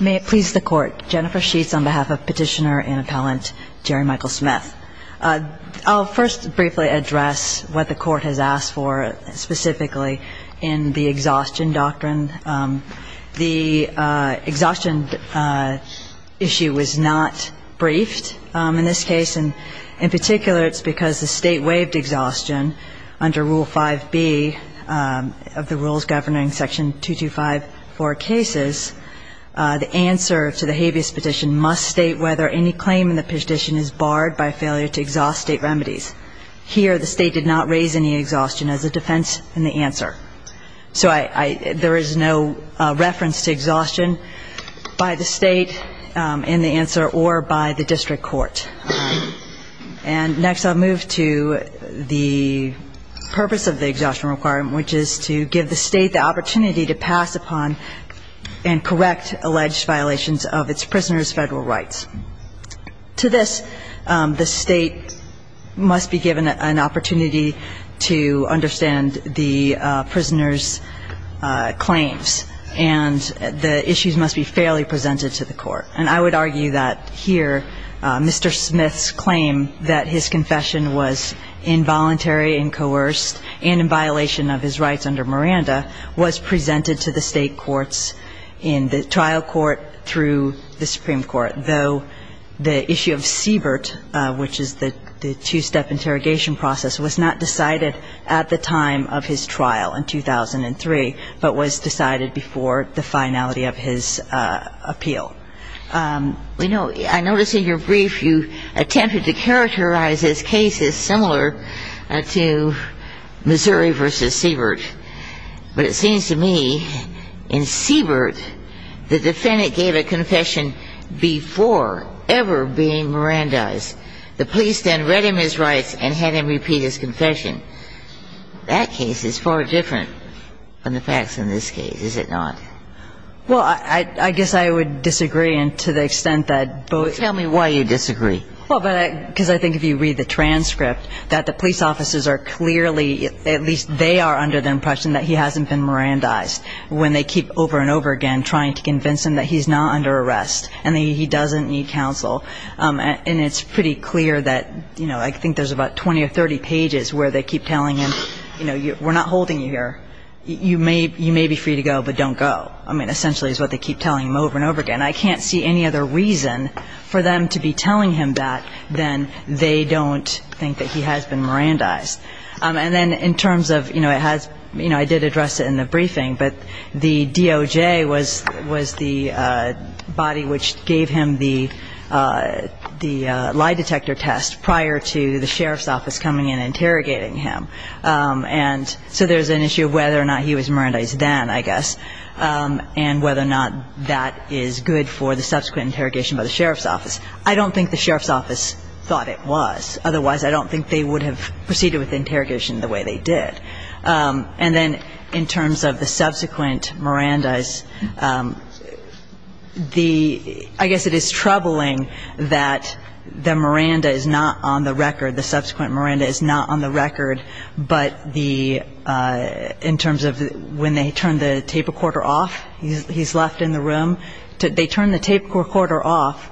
May it please the Court, Jennifer Sheets on behalf of Petitioner and Appellant Jerry Michael Smith. I'll first briefly address what the Court has asked for specifically in the exhaustion doctrine. The exhaustion issue was not briefed in this case. In particular, it's because the State waived exhaustion under Rule 5b of the Rules Governing Section 2254 cases. The answer to the habeas petition must state whether any claim in the petition is barred by failure to exhaust State remedies. Here the State did not raise any exhaustion as a defense in the answer. So there is no reference to exhaustion by the State in the answer or by the district court. And next I'll move to the purpose of the exhaustion requirement, which is to give the State the opportunity to pass upon and correct alleged violations of its prisoners' Federal rights. To this, the State must be given an opportunity to understand the prisoners' claims, and the issues must be fairly presented to the Court. And I would argue that here Mr. Smith's claim that his confession was involuntary and coerced and in violation of his rights under Miranda was presented to the State courts in the trial court through the Supreme Court, though the issue of Siebert, which is the two-step interrogation process, was not decided at the time of his trial in 2003, but was decided before the finality of his appeal. You know, I noticed in your brief you attempted to characterize this case as similar to Missouri v. Siebert. But it seems to me in Siebert the defendant gave a confession before ever being Mirandized. The police then read him his rights and had him repeat his confession. That case is far different from the facts in this case, is it not? Well, I guess I would disagree to the extent that both of them are. Tell me why you disagree. Well, because I think if you read the transcript that the police officers are clearly, at least they are under the impression that he hasn't been Mirandized when they keep over and over again trying to convince him that he's not under arrest and that he doesn't need counsel. And it's pretty clear that, you know, I think there's about 20 or 30 pages where they keep telling him, you know, we're not holding you here. You may be free to go, but don't go, I mean, essentially is what they keep telling him over and over again. And I can't see any other reason for them to be telling him that than they don't think that he has been Mirandized. And then in terms of, you know, it has, you know, I did address it in the briefing, but the DOJ was the body which gave him the lie detector test prior to the sheriff's office coming in and interrogating him. And so there's an issue of whether or not he was Mirandized then, I guess, and whether or not that is good for the subsequent interrogation by the sheriff's office. I don't think the sheriff's office thought it was. Otherwise, I don't think they would have proceeded with the interrogation the way they did. And then in terms of the subsequent Mirandas, the – I guess it is troubling that the Miranda is not on the record, the subsequent Miranda is not on the record, but the – in terms of when they turn the tape recorder off, he's left in the room. They turn the tape recorder off.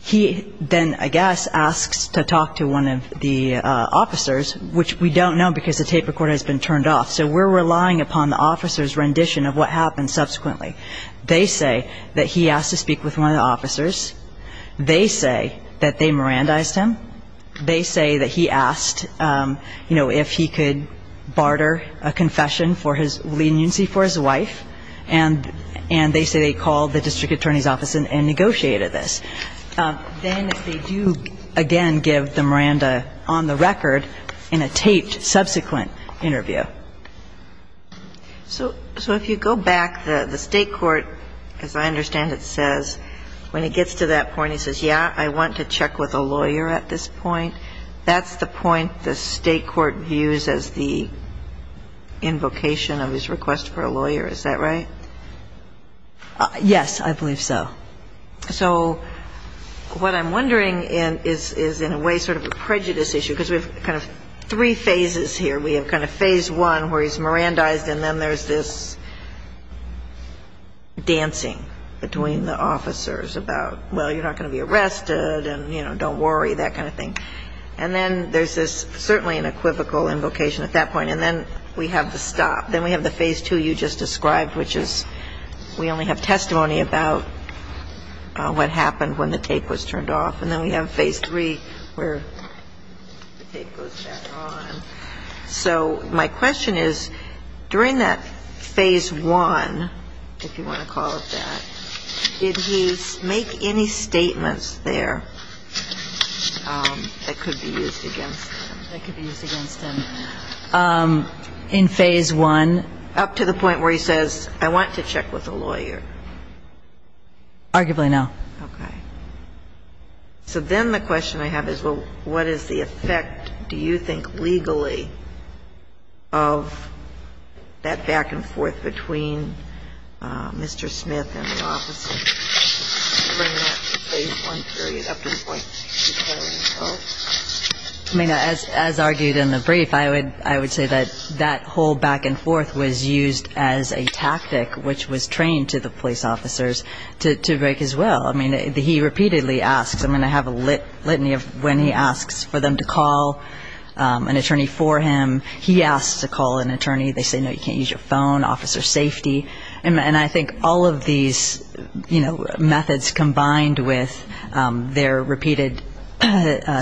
He then, I guess, asks to talk to one of the officers, which we don't know because the tape recorder has been turned off. So we're relying upon the officer's rendition of what happened subsequently. They say that he asked to speak with one of the officers. They say that they Mirandized him. They say that he asked, you know, if he could barter a confession for his leniency for his wife. And they say they called the district attorney's office and negotiated this. Then they do, again, give the Miranda on the record in a taped subsequent interview. So if you go back, the State court, as I understand it says, when it gets to that point, when he says, yeah, I want to check with a lawyer at this point, that's the point the State court views as the invocation of his request for a lawyer. Is that right? Yes, I believe so. So what I'm wondering is in a way sort of a prejudice issue because we have kind of three phases here. We have kind of phase one where he's Mirandized, and then there's this dancing between the officers about, well, you're not going to be arrested, and, you know, don't worry, that kind of thing. And then there's this certainly an equivocal invocation at that point. And then we have the stop. Then we have the phase two you just described, which is we only have testimony about what happened when the tape was turned off. And then we have phase three where the tape goes back on. So my question is, during that phase one, if you want to call it that, did he make any statements there that could be used against him? That could be used against him in phase one? Up to the point where he says, I want to check with a lawyer. Arguably, no. Okay. So then the question I have is, well, what is the effect, do you think, legally, of that back and forth between Mr. Smith and the officers? During that phase one period up to the point where he says no? I mean, as argued in the brief, I would say that that whole back and forth was used as a tactic, which was trained to the police officers to break his will. I mean, he repeatedly asks. I mean, I have a litany of when he asks for them to call an attorney for him. He asks to call an attorney. They say, no, you can't use your phone, officer safety. And I think all of these methods combined with their repeated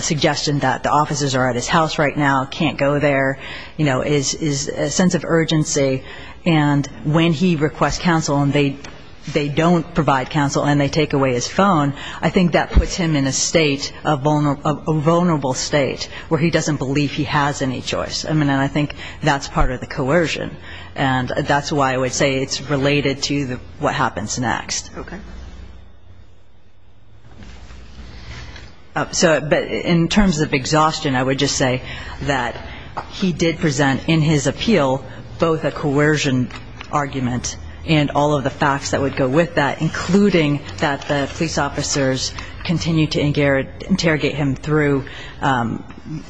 suggestion that the officers are at his house right now, can't go there, you know, is a sense of urgency. And when he requests counsel and they don't provide counsel and they take away his phone, I think that puts him in a state of vulnerable state where he doesn't believe he has any choice. I mean, and I think that's part of the coercion. And that's why I would say it's related to what happens next. Okay. So, but in terms of exhaustion, I would just say that he did present in his appeal both a coercion argument and all of the facts that would go with that, including that the police officers continued to interrogate him through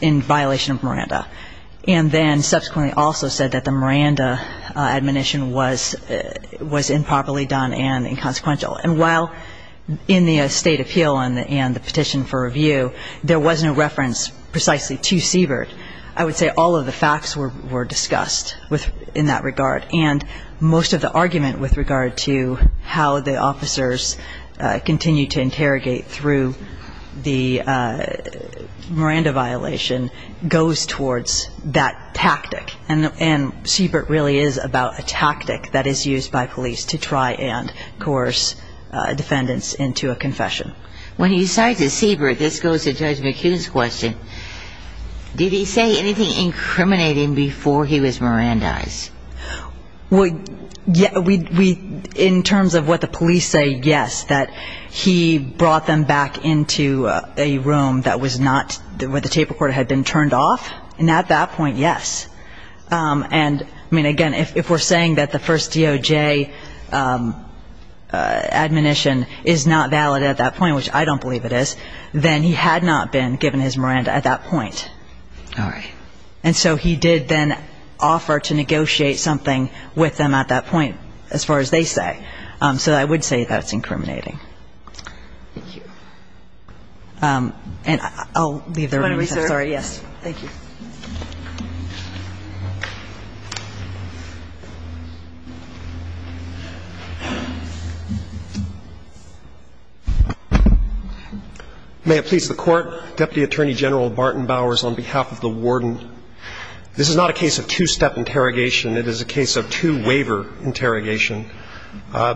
in violation of Miranda, and then subsequently also said that the Miranda admonition was improperly done and inconsequential. And while in the state appeal and the petition for review, there was no reference precisely to Siebert, I would say all of the facts were discussed in that regard. And most of the argument with regard to how the officers continued to interrogate through the Miranda violation goes towards that tactic. And Siebert really is about a tactic that is used by police to try and coerce defendants into a confession. When you cite Siebert, this goes to Judge McHugh's question, did he say anything incriminating before he was Mirandized? In terms of what the police say, yes, that he brought them back into a room that was not where the tape recorder had been turned off, and at that point, yes. And, I mean, again, if we're saying that the first DOJ admonition is not valid at that point, which I don't believe it is, then he had not been given his Miranda at that point. All right. And so he did then offer to negotiate something with them at that point, as far as they say. So I would say that's incriminating. Thank you. And I'll leave the room. I'm sorry, yes. Thank you. May it please the Court. Deputy Attorney General Barton Bowers on behalf of the Warden. This is not a case of two-step interrogation. It is a case of two-waiver interrogation.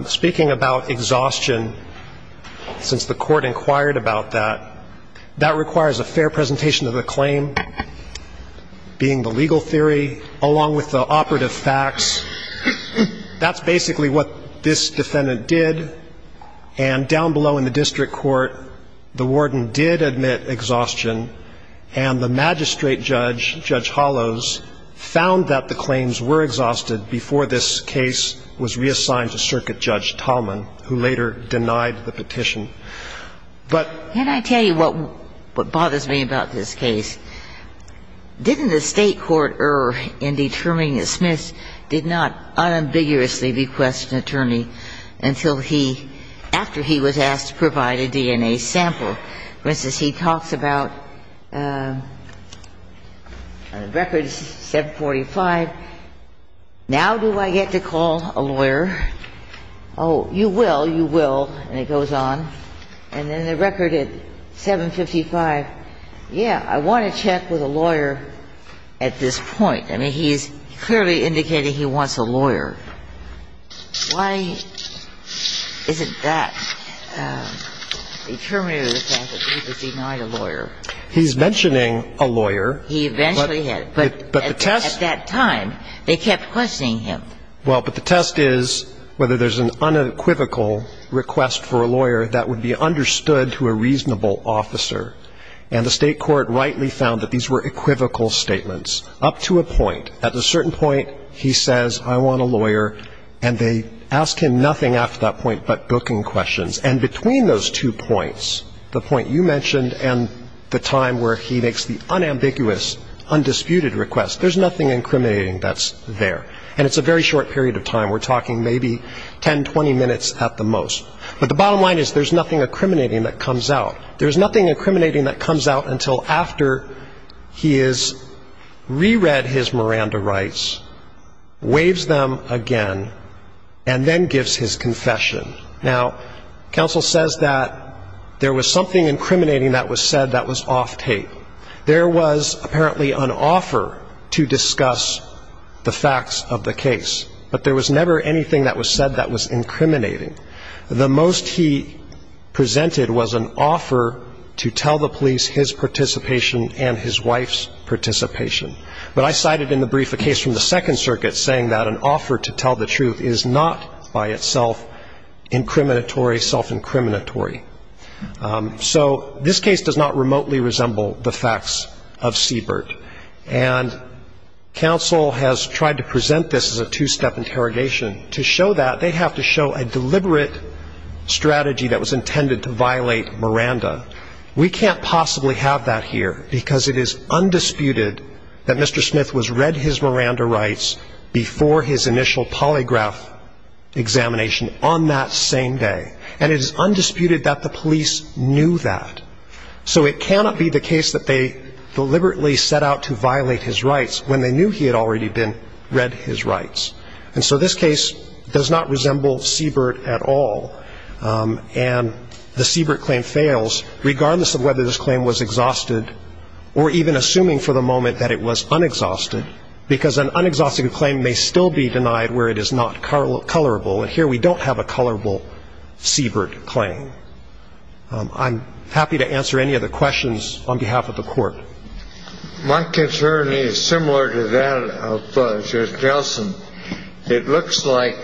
Speaking about exhaustion, since the Court inquired about that, that requires a fair presentation of the claim, being the legal theory, along with the operative facts. That's basically what this defendant did. And down below in the district court, the Warden did admit exhaustion, and the magistrate judge, Judge Hollows, found that the claims were exhausted before this case was reassigned to Circuit Judge Tallman, who later denied the petition. And I'll tell you what bothers me about this case. Didn't the State court err in determining that Smith did not unambiguously request an attorney until he, after he was asked to provide a DNA sample? For instance, he talks about records 745. Now do I get to call a lawyer? Oh, you will, you will. And it goes on. And then the record at 755, yeah, I want to check with a lawyer at this point. I mean, he's clearly indicating he wants a lawyer. Why isn't that determinative of the fact that he was denied a lawyer? He's mentioning a lawyer. He eventually had. But the test at that time, they kept questioning him. Well, but the test is whether there's an unequivocal request for a lawyer that would be understood to a reasonable officer. And the State court rightly found that these were equivocal statements, up to a point. At a certain point, he says, I want a lawyer. And they asked him nothing after that point but booking questions. And between those two points, the point you mentioned and the time where he makes the unambiguous, undisputed request, there's nothing incriminating that's there. And it's a very short period of time. We're talking maybe 10, 20 minutes at the most. But the bottom line is there's nothing incriminating that comes out. There's nothing incriminating that comes out until after he has reread his Miranda rights, waives them again, and then gives his confession. Now, counsel says that there was something incriminating that was said that was off tape. There was apparently an offer to discuss the facts of the case. But there was never anything that was said that was incriminating. The most he presented was an offer to tell the police his participation and his wife's participation. But I cited in the brief a case from the Second Circuit saying that an offer to tell the truth is not by itself incriminatory, self-incriminatory. So this case does not remotely resemble the facts of Siebert. And counsel has tried to present this as a two-step interrogation. To show that, they have to show a deliberate strategy that was intended to violate Miranda. We can't possibly have that here because it is undisputed that Mr. Smith was read his Miranda rights before his initial polygraph examination on that same day. And it is undisputed that the police knew that. So it cannot be the case that they deliberately set out to violate his rights when they knew he had already been read his rights. And so this case does not resemble Siebert at all. And the Siebert claim fails, regardless of whether this claim was exhausted or even assuming for the moment that it was unexhausted, because an unexhausted claim may still be denied where it is not colorable. And here we don't have a colorable Siebert claim. I'm happy to answer any of the questions on behalf of the Court. My concern is similar to that of Judge Gelson. It looks like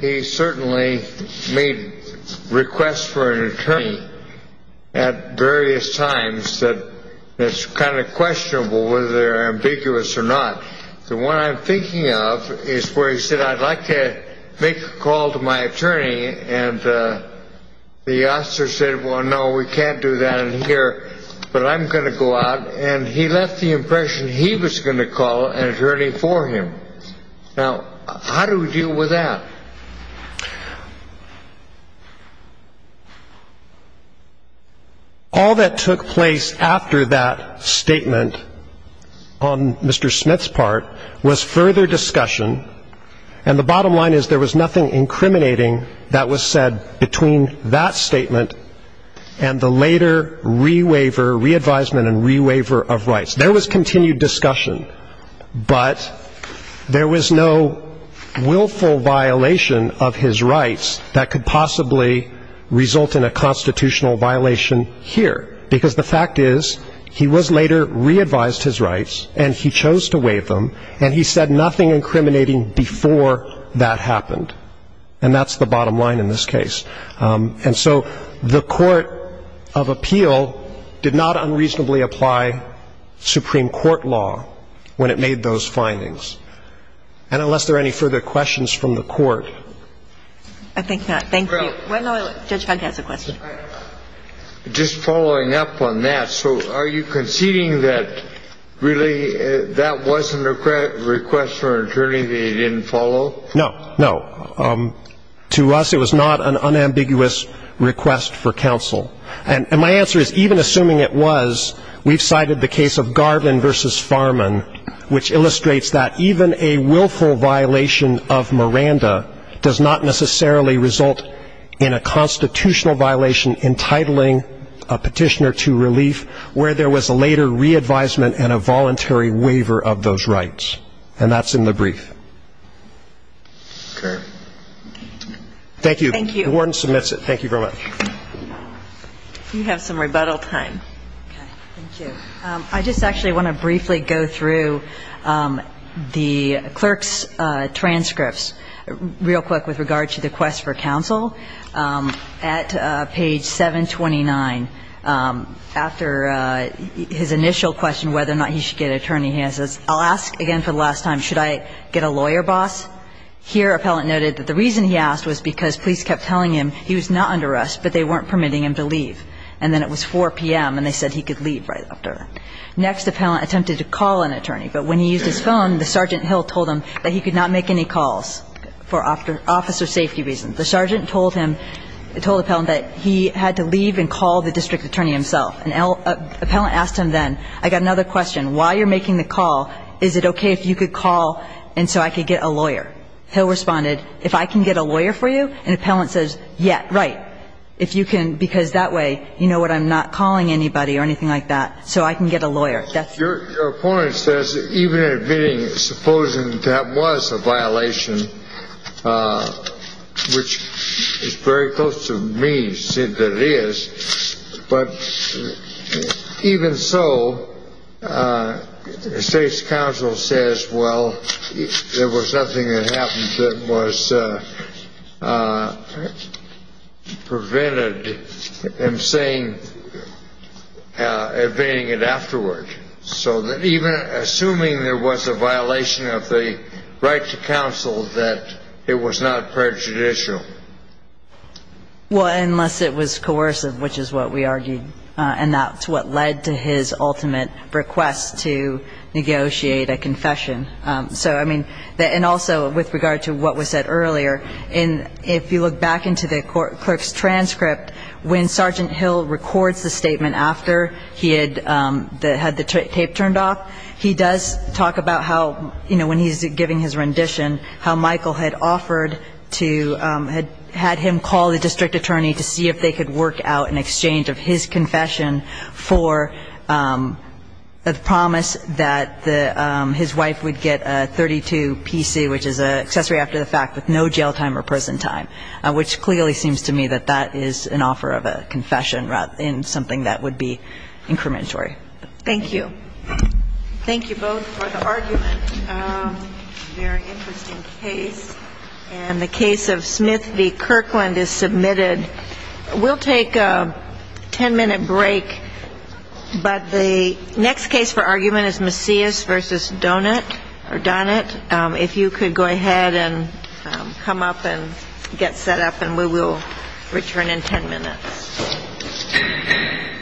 he certainly made requests for an attorney at various times that it's kind of questionable whether they're ambiguous or not. The one I'm thinking of is where he said, I'd like to make a call to my attorney, and the officer said, well, no, we can't do that in here, but I'm going to go out. And he left the impression he was going to call an attorney for him. Now, how do we deal with that? All that took place after that statement on Mr. Smith's part was further discussion, and the bottom line is there was nothing incriminating that was said between that statement and the later re-waiver, re-advisement and re-waiver of rights. There was continued discussion, but there was no willful violation of his rights that could possibly result in a constitutional violation here, because the fact is he was later re-advised his rights, and he chose to waive them, and he said nothing incriminating before that happened, and that's the bottom line in this case. And so the Court of Appeal did not unreasonably apply Supreme Court law when it made those findings. And unless there are any further questions from the Court. I think not. Thank you. Judge Hunt has a question. Just following up on that, so are you conceding that really that wasn't a request from an attorney that he didn't follow? No, no. To us it was not an unambiguous request for counsel. And my answer is even assuming it was, we've cited the case of Garvin v. Farman, which illustrates that even a willful violation of Miranda does not necessarily result in a constitutional violation entitling a petitioner to relief where there was a later re-advisement and a voluntary waiver of those rights. And that's in the brief. Okay. Thank you. Thank you. The warden submits it. Thank you very much. You have some rebuttal time. Okay. Thank you. I just actually want to briefly go through the clerk's transcripts real quick with regard to the request for counsel. At page 729, after his initial question whether or not he should get an attorney, he says, I'll ask again for the last time, should I get a lawyer boss? Here, Appellant noted that the reason he asked was because police kept telling him he was not under arrest, but they weren't permitting him to leave. And then it was 4 p.m., and they said he could leave right after that. Next, Appellant attempted to call an attorney, but when he used his phone, the Sergeant Hill told him that he could not make any calls for officer safety reasons. The Sergeant told him, told Appellant that he had to leave and call the district attorney himself. And Appellant asked him then, I got another question. While you're making the call, is it okay if you could call and so I could get a lawyer? Hill responded, if I can get a lawyer for you? And Appellant says, yeah, right, if you can, because that way you know what, I'm not calling anybody or anything like that, so I can get a lawyer. Your opponent says even admitting, supposing that was a violation, which is very close to me, but even so, the state's counsel says, well, there was nothing that happened that was prevented him saying, evading it afterward. So even assuming there was a violation of the right to counsel, that it was not prejudicial. Well, unless it was coercive, which is what we argued, and that's what led to his ultimate request to negotiate a confession. So, I mean, and also with regard to what was said earlier, if you look back into the clerk's transcript, when Sergeant Hill records the statement after he had the tape turned off, he does talk about how, you know, when he's giving his rendition, how Michael had offered to had him call the district attorney to see if they could work out an exchange of his confession for the promise that his wife would get a 32 PC, which is an accessory after the fact, with no jail time or prison time, which clearly seems to me that that is an offer of a confession, rather than something that would be incrementory. Thank you. Thank you both for the argument. Very interesting case. And the case of Smith v. Kirkland is submitted. We'll take a ten-minute break. But the next case for argument is Macias v. Donut. If you could go ahead and come up and get set up, and we will return in ten minutes.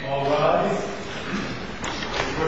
All rise. We will return in ten minutes.